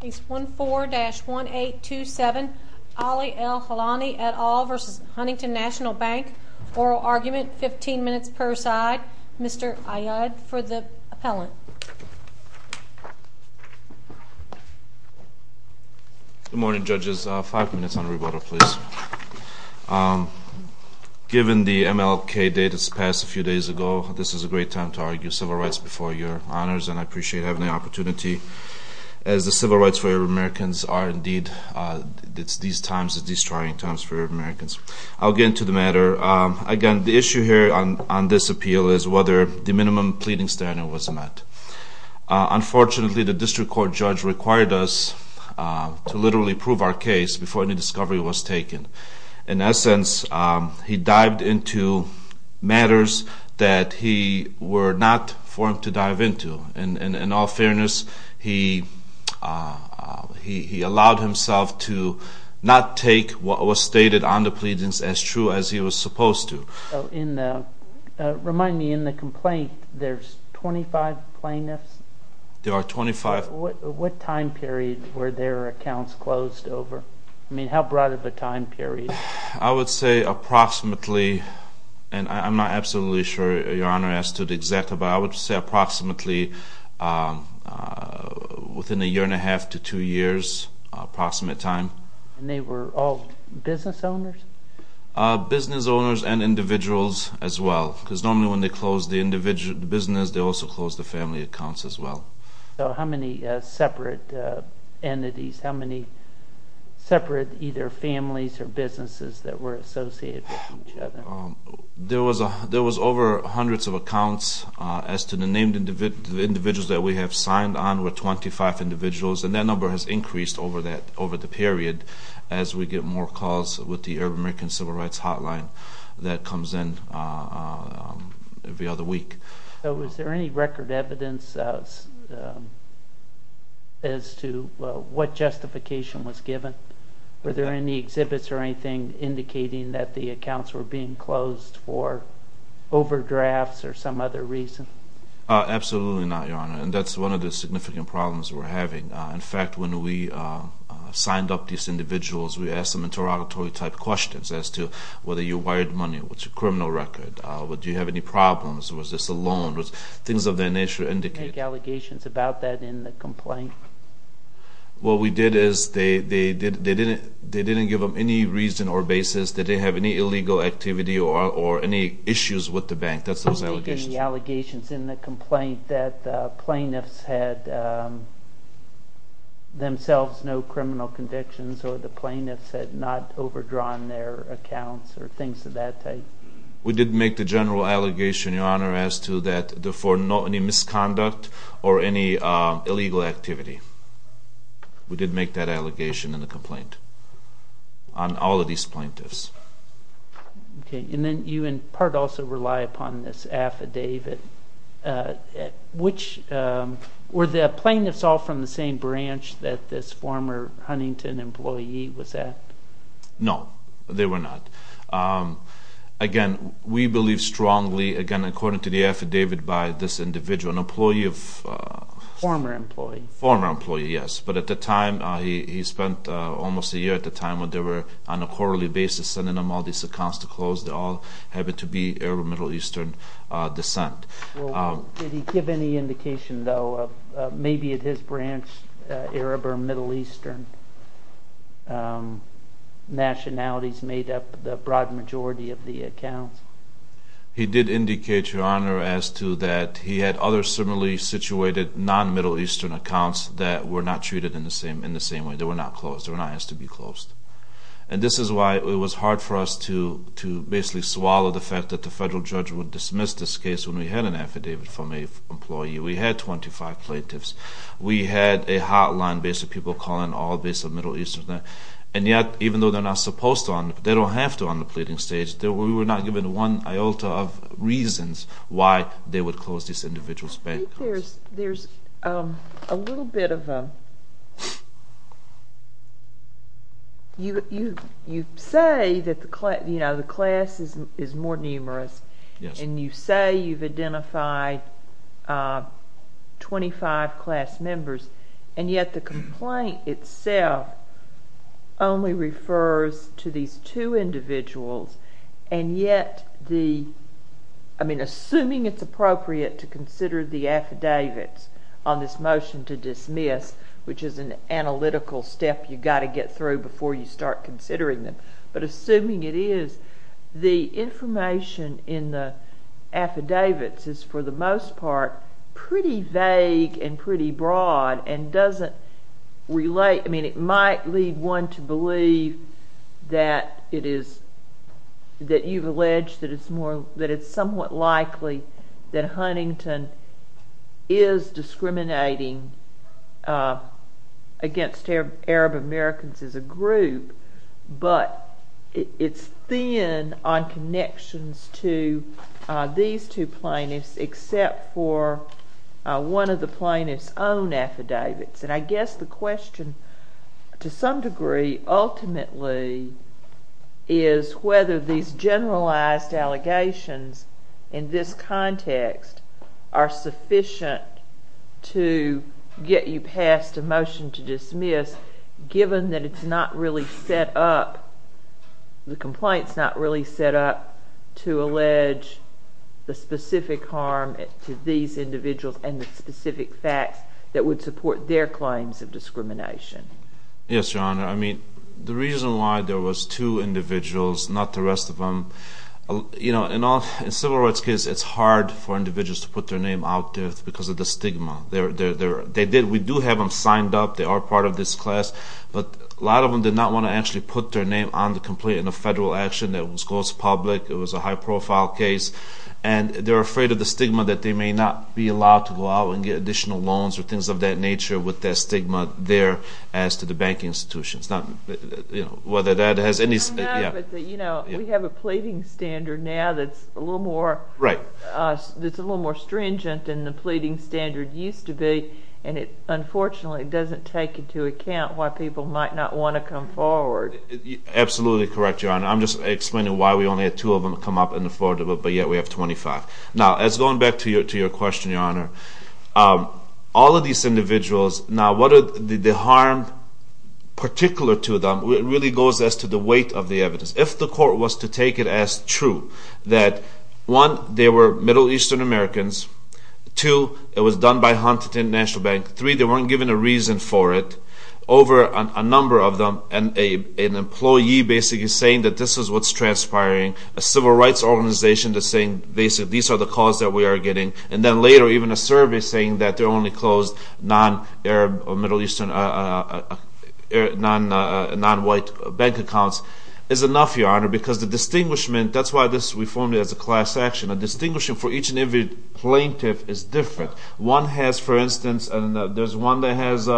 Case 14-1827, Ali El Hallani, et al. v. Huntington National Bank. Oral argument, 15 minutes per side. Mr. Ayad, for the appellant. Good morning, judges. Five minutes on rebuttal, please. Given the MLK date that's passed a few days ago, this is a great time to argue civil rights before your honors, and I appreciate having the opportunity, as the civil rights for Arab Americans are indeed these times, these trying times for Arab Americans. I'll get into the matter. Again, the issue here on this appeal is whether the minimum pleading standard was met. Unfortunately, the district court judge required us to literally prove our case before any discovery was taken. In essence, he dived into matters that he were not formed to dive into, and in all fairness, he allowed himself to not take what was stated on the pleadings as true as he was supposed to. Remind me, in the complaint, there's 25 plaintiffs? There are 25. What time period were their accounts closed over? I mean, how broad of a time period? I would say approximately, and I'm not absolutely sure your honor as to the exact, but I would say approximately within a year and a half to two years, approximate time. And they were all business owners? Business owners and individuals as well, because normally when they close the business, they also close the family accounts as well. So how many separate entities, how many separate either families or businesses that were associated with each other? There was over hundreds of accounts. As to the named individuals that we have signed on, we're 25 individuals, and that number has increased over the period as we get more calls with the American Civil Rights Hotline that comes in every other week. Was there any record evidence as to what justification was given? Were there any exhibits or anything indicating that the accounts were being closed for overdrafts or some other reason? Absolutely not, your honor, and that's one of the significant problems we're having. In fact, when we signed up these individuals, we asked them interrogatory-type questions as to whether you wired money, what's your criminal record, do you have any problems, was this a loan, things of that nature indicated. Did you make allegations about that in the complaint? What we did is they didn't give them any reason or basis that they have any illegal activity or any issues with the bank. That's those allegations. Did you make any allegations in the complaint that the plaintiffs had themselves no criminal convictions or the plaintiffs had not overdrawn their accounts or things of that type? We did make the general allegation, your honor, as to for any misconduct or any illegal activity. We did make that allegation in the complaint on all of these plaintiffs. Okay, and then you in part also rely upon this affidavit. Were the plaintiffs all from the same branch that this former Huntington employee was at? No, they were not. Again, we believe strongly, again, according to the affidavit by this individual, an employee of... Former employee. Former employee, yes, but at the time he spent almost a year at the time when they were on a quarterly basis sending him all these accounts to close. They all happened to be Arab or Middle Eastern descent. Did he give any indication, though, of maybe at his branch, Arab or Middle Eastern nationalities made up the broad majority of the accounts? He did indicate, your honor, as to that he had other similarly situated non-Middle Eastern accounts that were not treated in the same way. They were not closed. They were not asked to be closed. And this is why it was hard for us to basically swallow the fact that the federal judge would dismiss this case when we had an affidavit from an employee. We had 25 plaintiffs. We had a hotline based on people calling all based on Middle Eastern. And yet, even though they're not supposed to, they don't have to on the pleading stage, we were not given one iota of reasons why they would close this individual's bank accounts. I think there's a little bit of a... You say that the class is more numerous, and you say you've identified 25 class members, and yet the complaint itself only refers to these two individuals, and yet the... I mean, assuming it's appropriate to consider the affidavits on this motion to dismiss, which is an analytical step you've got to get through before you start considering them, but assuming it is, the information in the affidavits is, for the most part, pretty vague and pretty broad and doesn't relate. I mean, it might lead one to believe that you've alleged that it's somewhat likely that Huntington is discriminating against Arab Americans as a group, but it's thin on connections to these two plaintiffs except for one of the plaintiffs' own affidavits. And I guess the question, to some degree, ultimately, is whether these generalized allegations in this context are sufficient to get you past a motion to dismiss given that it's not really set up, the complaint's not really set up to allege the specific harm to these individuals and the specific facts that would support their claims of discrimination. Yes, Your Honor. I mean, the reason why there was two individuals, not the rest of them, in civil rights cases, it's hard for individuals to put their name out there because of the stigma. We do have them signed up, they are part of this class, but a lot of them did not want to actually put their name on the complaint in a federal action that was close to public, it was a high-profile case, and they're afraid of the stigma that they may not be allowed to go out and get additional loans or things of that nature with that stigma there as to the banking institutions. Whether that has any... We have a pleading standard now that's a little more stringent than the pleading standard used to be, and it, unfortunately, doesn't take into account why people might not want to come forward. Absolutely correct, Your Honor. I'm just explaining why we only had two of them come up in the forward vote, but yet we have 25. Now, going back to your question, Your Honor, all of these individuals, now the harm particular to them really goes as to the weight of the evidence. If the court was to take it as true that, one, they were Middle Eastern Americans, two, it was done by Huntington National Bank, three, they weren't given a reason for it over a number of them, and an employee basically saying that this is what's transpiring, a civil rights organization that's saying, basically, these are the calls that we are getting, and then later even a survey saying that they're only closed non-Arab or Middle Eastern, non-white bank accounts is enough, Your Honor, because the distinguishment, that's why we formed it as a class action, a distinguishing for each and every plaintiff is different. One has, for instance, there's one that has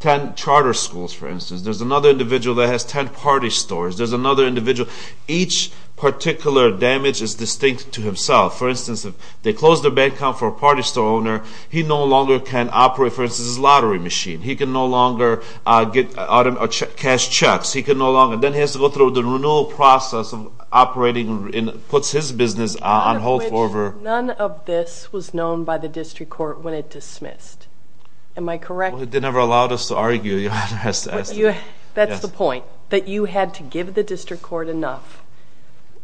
10 charter schools, for instance. There's another individual that has 10 party stores. There's another individual. Each particular damage is distinct to himself. For instance, if they close their bank account for a party store owner, he no longer can operate, for instance, his lottery machine. He can no longer cash checks. He can no longer. Then he has to go through the renewal process of operating and puts his business on hold forever. None of this was known by the district court when it dismissed. Am I correct? They never allowed us to argue, Your Honor. That's the point, that you had to give the district court enough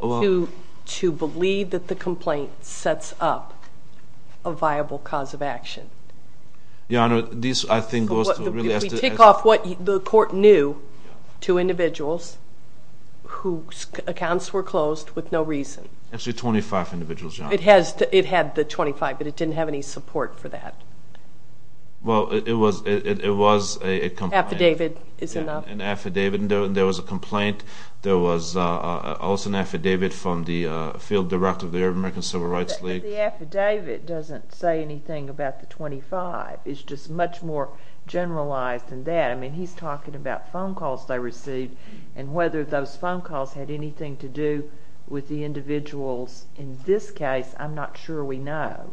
to believe that the complaint sets up a viable cause of action. Your Honor, this, I think, goes to really have to. We take off what the court knew to individuals whose accounts were closed with no reason. Actually, 25 individuals, Your Honor. It had the 25, but it didn't have any support for that. Well, it was a complaint. Affidavit is enough. There was a complaint. There was also an affidavit from the field director of the American Civil Rights League. The affidavit doesn't say anything about the 25. It's just much more generalized than that. I mean, he's talking about phone calls they received and whether those phone calls had anything to do with the individuals. In this case, I'm not sure we know.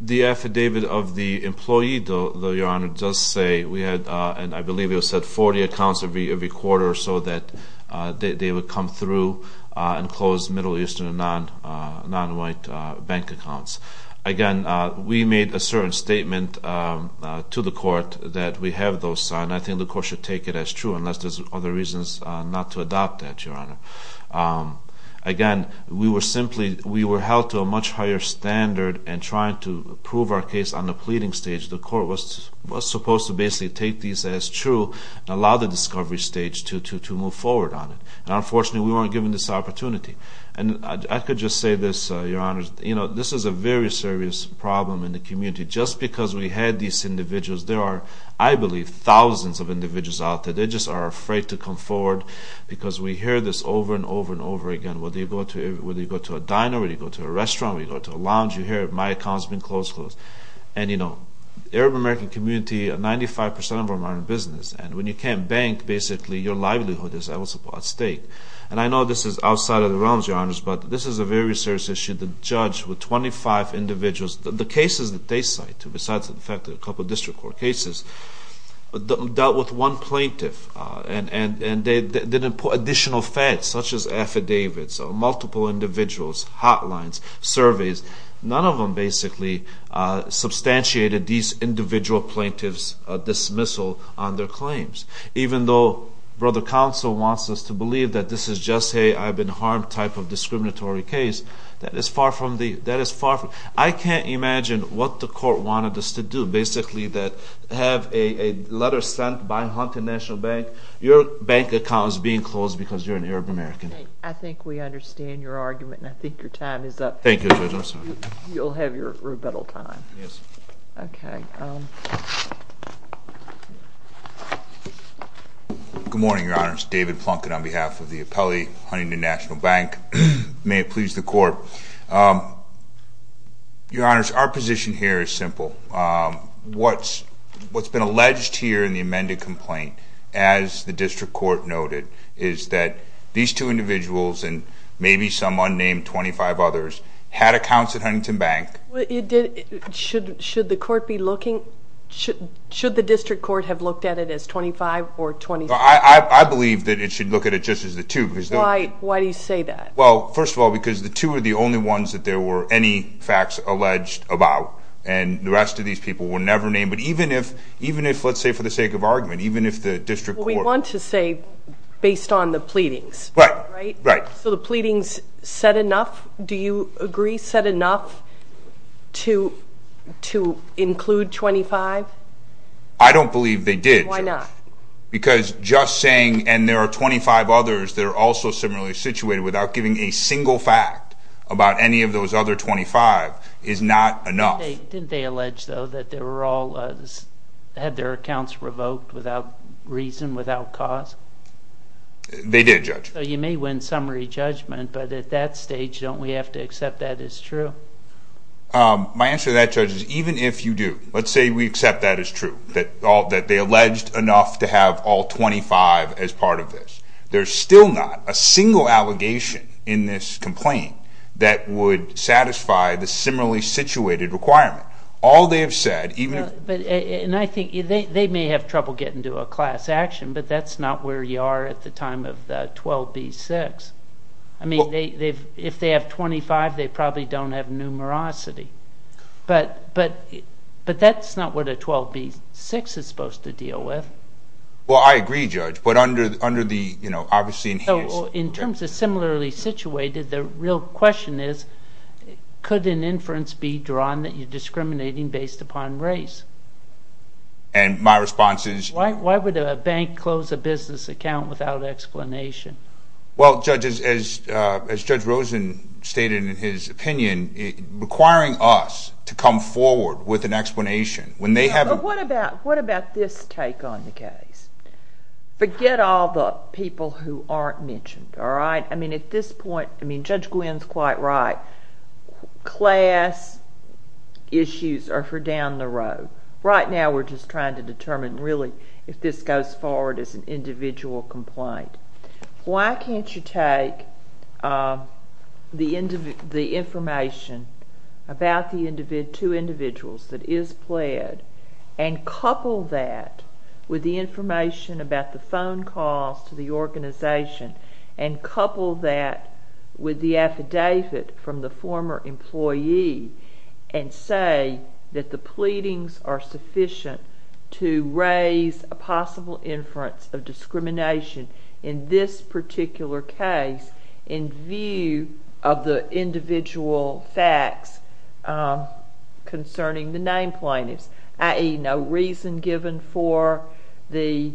The affidavit of the employee, though, Your Honor, does say we had, and I believe it said 40 accounts every quarter or so that they would come through and close Middle Eastern and nonwhite bank accounts. Again, we made a certain statement to the court that we have those. I think the court should take it as true, unless there's other reasons not to adopt that, Your Honor. Again, we were held to a much higher standard in trying to prove our case on the pleading stage. The court was supposed to basically take these as true and allow the discovery stage to move forward on it. Unfortunately, we weren't given this opportunity. I could just say this, Your Honor. This is a very serious problem in the community. Just because we had these individuals, there are, I believe, thousands of individuals out there. They just are afraid to come forward because we hear this over and over and over again. Whether you go to a diner, whether you go to a restaurant, whether you go to a lounge, you hear, my account's been closed, closed. Arab American community, 95% of them are in business. When you can't bank, basically your livelihood is at stake. I know this is outside of the realms, Your Honors, but this is a very serious issue. The judge with 25 individuals, the cases that they cite, besides the fact that a couple of district court cases, dealt with one plaintiff. They didn't put additional facts, such as affidavits, multiple individuals, hotlines, surveys. None of them basically substantiated these individual plaintiffs' dismissal on their claims. Even though Brother Counsel wants us to believe that this is just a, I've been harmed type of discriminatory case, that is far from it. I can't imagine what the court wanted us to do. Basically, have a letter sent by Hunter National Bank, your bank account is being closed because you're an Arab American. I think we understand your argument, and I think your time is up. Thank you, Judge, I'm sorry. You'll have your rebuttal time. Yes. Okay. Good morning, Your Honors. David Plunkett on behalf of the appellee, Huntington National Bank. May it please the court. Your Honors, our position here is simple. What's been alleged here in the amended complaint, as the district court noted, is that these two individuals and maybe some unnamed 25 others had accounts at Huntington Bank. Should the district court have looked at it as 25 or 26? I believe that it should look at it just as the two. Why do you say that? Well, first of all, because the two are the only ones that there were any facts alleged about, and the rest of these people were never named. But even if, let's say for the sake of argument, even if the district court I want to say based on the pleadings, right? Right. So the pleadings said enough, do you agree, said enough to include 25? I don't believe they did, Judge. Why not? Because just saying, and there are 25 others that are also similarly situated, without giving a single fact about any of those other 25 is not enough. Didn't they allege, though, that they had their accounts revoked without reason, without cause? They did, Judge. So you may win summary judgment, but at that stage, don't we have to accept that as true? My answer to that, Judge, is even if you do, let's say we accept that as true, that they alleged enough to have all 25 as part of this. There's still not a single allegation in this complaint that would satisfy the similarly situated requirement. All they have said, even if... And I think they may have trouble getting to a class action, but that's not where you are at the time of the 12B-6. I mean, if they have 25, they probably don't have numerosity. But that's not what a 12B-6 is supposed to deal with. Well, I agree, Judge, but under the, you know, obviously... In terms of similarly situated, the real question is, could an inference be drawn that you're discriminating based upon race? And my response is... Why would a bank close a business account without explanation? Well, Judge, as Judge Rosen stated in his opinion, requiring us to come forward with an explanation when they have... But what about this take on the case? Forget all the people who aren't mentioned, all right? I mean, at this point, I mean, Judge Gwynne's quite right. Class issues are for down the road. Right now we're just trying to determine, really, if this goes forward as an individual complaint. Why can't you take the information about the two individuals that is pled and couple that with the information about the phone calls to the organization and couple that with the affidavit from the former employee and say that the pleadings are sufficient to raise a possible inference of discrimination in this particular case in view of the individual facts concerning the name plaintiffs, i.e. no reason given for the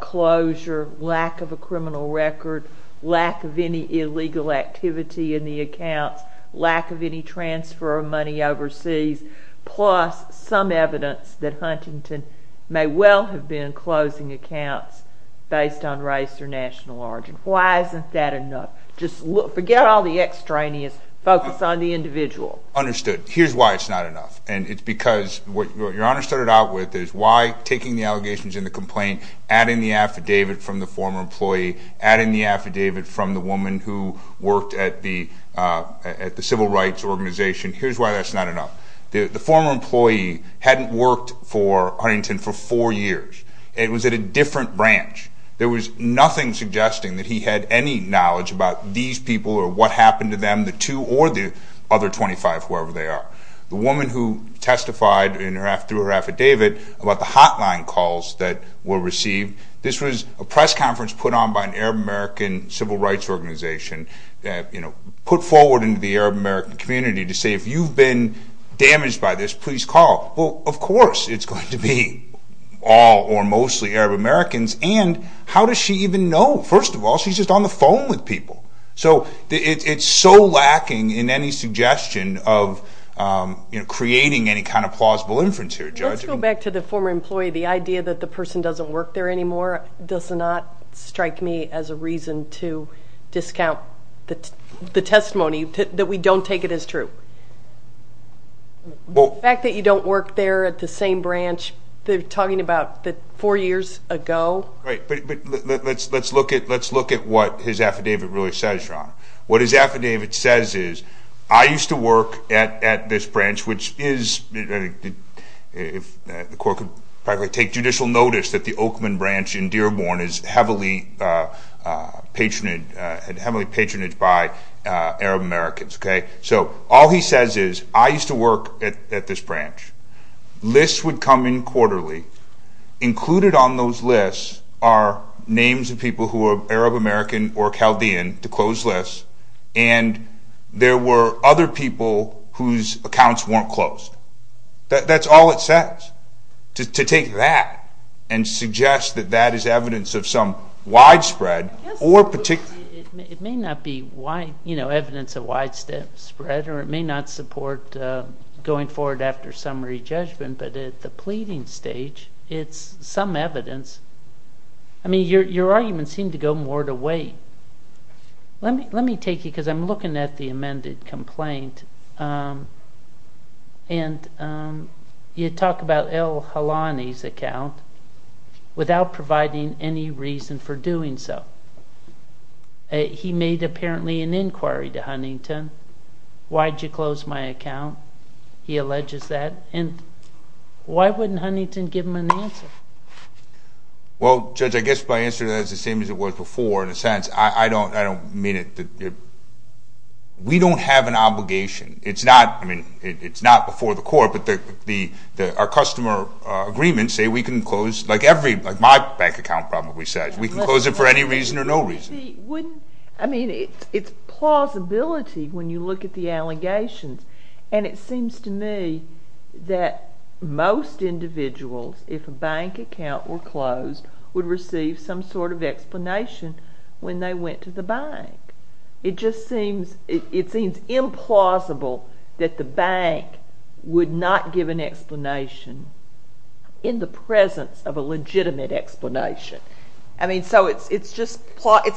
closure, lack of a criminal record, lack of any illegal activity in the accounts, lack of any transfer of money overseas, plus some evidence that Huntington may well have been closing accounts based on race or national origin. Why isn't that enough? Just forget all the extraneous focus on the individual. Understood. Here's why it's not enough, and it's because what Your Honor started out with is why taking the allegations in the complaint, adding the affidavit from the former employee, adding the affidavit from the woman who worked at the civil rights organization, here's why that's not enough. The former employee hadn't worked for Huntington for four years. It was at a different branch. There was nothing suggesting that he had any knowledge about these people or what happened to them, the two or the other 25, whoever they are. The woman who testified through her affidavit about the hotline calls that were received, this was a press conference put on by an Arab American civil rights organization, put forward into the Arab American community to say, if you've been damaged by this, please call. Well, of course it's going to be all or mostly Arab Americans, and how does she even know? First of all, she's just on the phone with people. So it's so lacking in any suggestion of creating any kind of plausible inference here, Judge. Let's go back to the former employee. The idea that the person doesn't work there anymore does not strike me as a reason to discount the testimony that we don't take it as true. The fact that you don't work there at the same branch they're talking about four years ago. Right. But let's look at what his affidavit really says, Sean. What his affidavit says is, I used to work at this branch, which is if the court could probably take judicial notice, that the Oakman branch in Dearborn is heavily patronage by Arab Americans. So all he says is, I used to work at this branch. Lists would come in quarterly. Included on those lists are names of people who are Arab American or Chaldean, to close lists, and there were other people whose accounts weren't closed. That's all it says, to take that and suggest that that is evidence of some widespread or particular. It may not be evidence of widespread, or it may not support going forward after summary judgment, but at the pleading stage it's some evidence. I mean, your arguments seem to go more to weight. Let me take you, because I'm looking at the amended complaint, and you talk about El Halani's account, without providing any reason for doing so. He made, apparently, an inquiry to Huntington. Why did you close my account? He alleges that, and why wouldn't Huntington give him an answer? Well, Judge, I guess my answer to that is the same as it was before, in a sense. I don't mean it. We don't have an obligation. It's not before the court, but our customer agreements say we can close, like my bank account probably says, we can close it for any reason or no reason. I mean, it's plausibility when you look at the allegations, and it seems to me that most individuals, if a bank account were closed, would receive some sort of explanation when they went to the bank. It just seems implausible that the bank would not give an explanation in the presence of a legitimate explanation. I mean, so it's a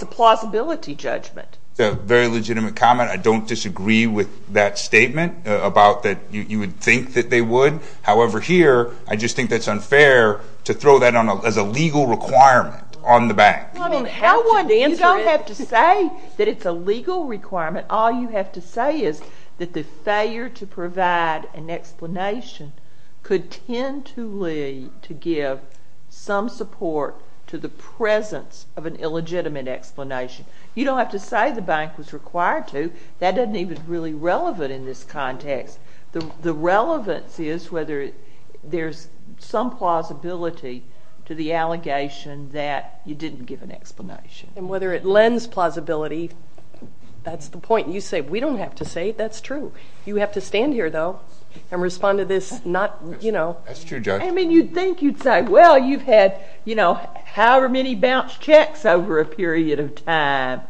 plausibility judgment. It's a very legitimate comment. I don't disagree with that statement about that you would think that they would. However, here, I just think that's unfair to throw that as a legal requirement on the bank. You don't have to say that it's a legal requirement. All you have to say is that the failure to provide an explanation could tend to lead to give some support to the presence of an illegitimate explanation. You don't have to say the bank was required to. That doesn't even really relevant in this context. The relevance is whether there's some plausibility to the allegation that you didn't give an explanation. And whether it lends plausibility, that's the point. You say we don't have to say it. That's true. You have to stand here, though, and respond to this not, you know. That's true, Judge. I mean, you'd think you'd say, well, you've had, you know, however many bounced checks over a period of time.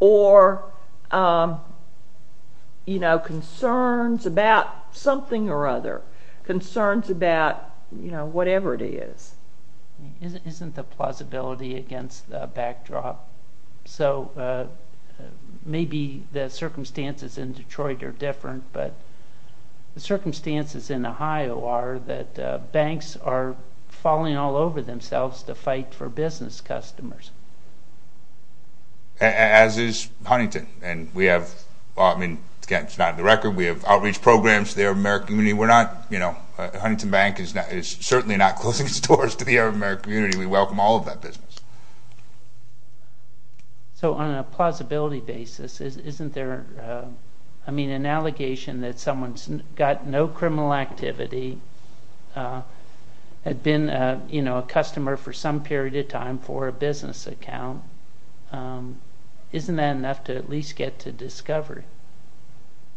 Or, you know, concerns about something or other, concerns about, you know, whatever it is. Isn't the plausibility against the backdrop? So maybe the circumstances in Detroit are different, but the circumstances in Ohio are that banks are falling all over themselves to fight for business customers. As is Huntington. And we have, I mean, again, it's not in the record. We have outreach programs there in the American community. We're not, you know, Huntington Bank is certainly not closing its doors to the American community. We welcome all of that business. So on a plausibility basis, isn't there, I mean, an allegation that someone's got no criminal activity, had been, you know, a customer for some period of time for a business account, isn't that enough to at least get to discovery?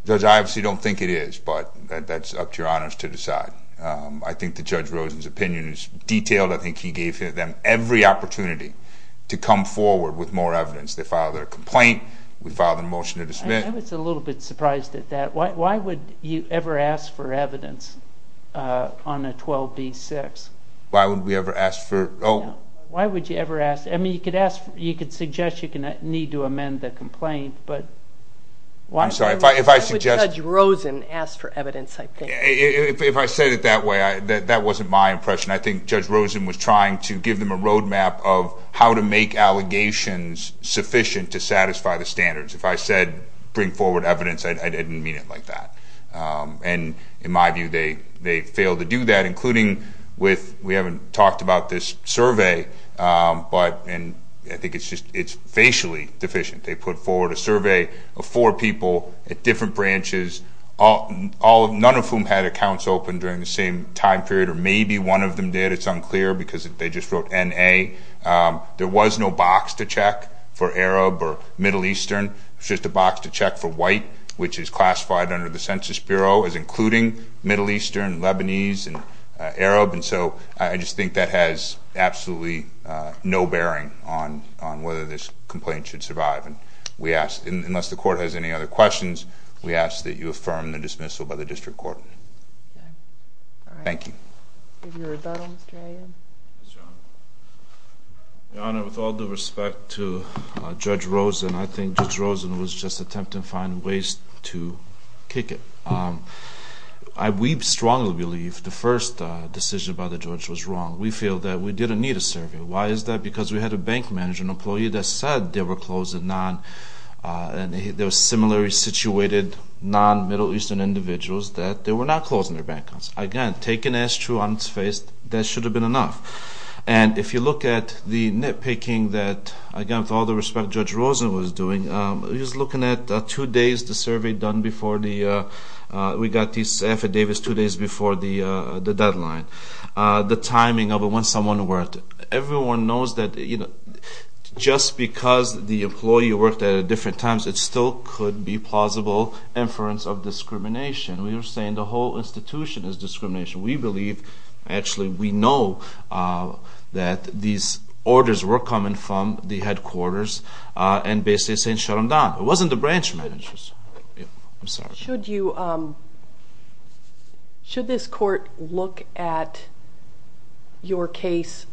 Judge, I obviously don't think it is, but that's up to your honors to decide. I think that Judge Rosen's opinion is detailed. I think he gave them every opportunity to come forward with more evidence. They filed their complaint. We filed a motion to dismiss. I was a little bit surprised at that. Why would you ever ask for evidence on a 12b-6? Why would we ever ask for? Why would you ever ask? I mean, you could ask, you could suggest you need to amend the complaint, but why? I'm sorry. Why would Judge Rosen ask for evidence, I think? If I said it that way, that wasn't my impression. I think Judge Rosen was trying to give them a roadmap of how to make allegations sufficient to satisfy the standards. If I said bring forward evidence, I didn't mean it like that. And in my view, they failed to do that, including with, we haven't talked about this survey, but I think it's facially deficient. They put forward a survey of four people at different branches, none of whom had accounts open during the same time period, or maybe one of them did. It's unclear because they just wrote N-A. There was no box to check for Arab or Middle Eastern. There's just a box to check for white, which is classified under the Census Bureau as including Middle Eastern, Lebanese, and Arab. And so I just think that has absolutely no bearing on whether this complaint should survive. Unless the Court has any other questions, we ask that you affirm the dismissal by the District Court. Thank you. Give your rebuttal, Mr. Hayden. Yes, Your Honor. Your Honor, with all due respect to Judge Rosen, I think Judge Rosen was just attempting to find ways to kick it. We strongly believe the first decision by the judge was wrong. We feel that we didn't need a survey. Why is that? Because we had a bank manager, an employee, that said there were similarly situated non-Middle Eastern individuals that they were not closing their bank accounts. Again, taken as true on its face, that should have been enough. And if you look at the nitpicking that, again, with all due respect, Judge Rosen was doing, he was looking at two days, the survey done before we got these affidavits two days before the deadline, the timing of when someone worked. Everyone knows that just because the employee worked at different times, it still could be plausible inference of discrimination. We were saying the whole institution is discrimination. We believe, actually we know, that these orders were coming from the headquarters and basically saying shut them down. It wasn't the branch managers. I'm sorry. Should this court look at your case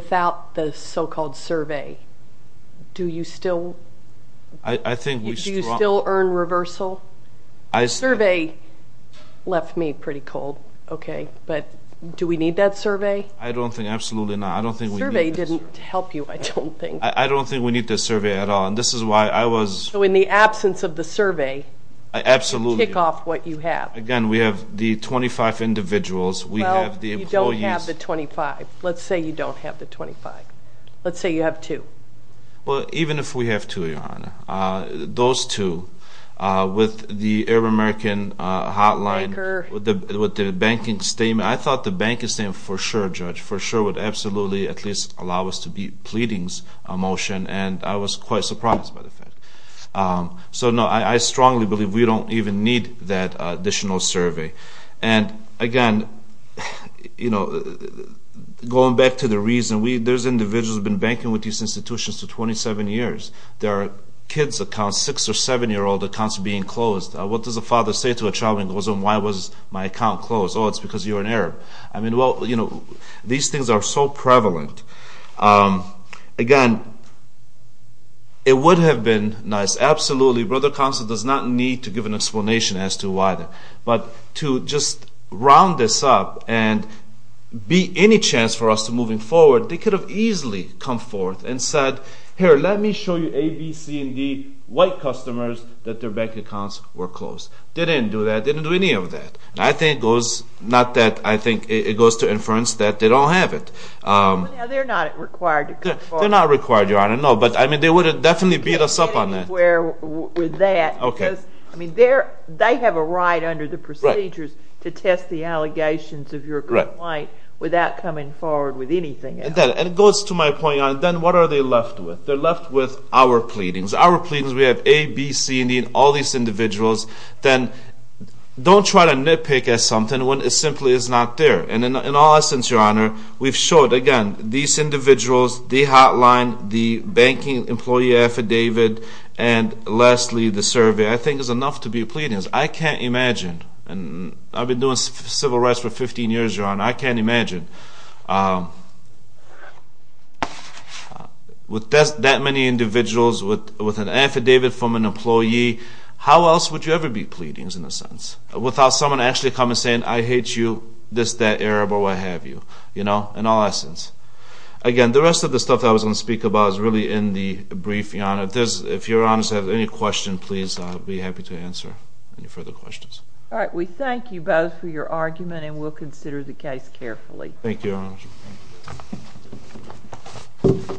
without the so-called survey? Do you still earn reversal? The survey left me pretty cold, okay, but do we need that survey? I don't think absolutely not. The survey didn't help you, I don't think. I don't think we need the survey at all. So in the absence of the survey, you kick off what you have. Again, we have the 25 individuals, we have the employees. Well, you don't have the 25. Let's say you don't have the 25. Let's say you have two. Well, even if we have two, Your Honor, those two with the Arab American hotline, with the banking statement, I thought the banking statement for sure, Judge, for sure would absolutely at least allow us to be pleading a motion. And I was quite surprised by the fact. So, no, I strongly believe we don't even need that additional survey. And, again, you know, going back to the reason, those individuals have been banking with these institutions for 27 years. There are kids' accounts, six- or seven-year-old accounts being closed. What does a father say to a child when he goes home? Why was my account closed? Oh, it's because you're an Arab. I mean, well, you know, these things are so prevalent. Again, it would have been nice. Absolutely, Brother Counsel does not need to give an explanation as to why that. But to just round this up and be any chance for us to move forward, they could have easily come forth and said, Here, let me show you A, B, C, and D white customers that their bank accounts were closed. They didn't do that. They didn't do any of that. I think it goes not that I think it goes to inference that they don't have it. They're not required to come forward. They're not required, Your Honor, no. But, I mean, they would have definitely beat us up on that. Anywhere with that. Okay. Because, I mean, they have a right under the procedures to test the allegations of your complaint without coming forward with anything else. And it goes to my point, Your Honor, then what are they left with? They're left with our pleadings. Our pleadings, we have A, B, C, and D, all these individuals. Then don't try to nitpick at something when it simply is not there. And, in all essence, Your Honor, we've showed, again, these individuals, the hotline, the banking employee affidavit, and, lastly, the survey. I think it's enough to be pleadings. I can't imagine. I've been doing civil rights for 15 years, Your Honor. I can't imagine. With that many individuals, with an affidavit from an employee, how else would you ever be pleadings, in a sense, without someone actually coming and saying, I hate you, this, that, Arab, or what have you. You know, in all essence. Again, the rest of the stuff I was going to speak about is really in the brief, Your Honor. If Your Honor has any questions, please, I'll be happy to answer any further questions. All right. We thank you both for your argument, and we'll consider the case carefully. Thank you, Your Honor.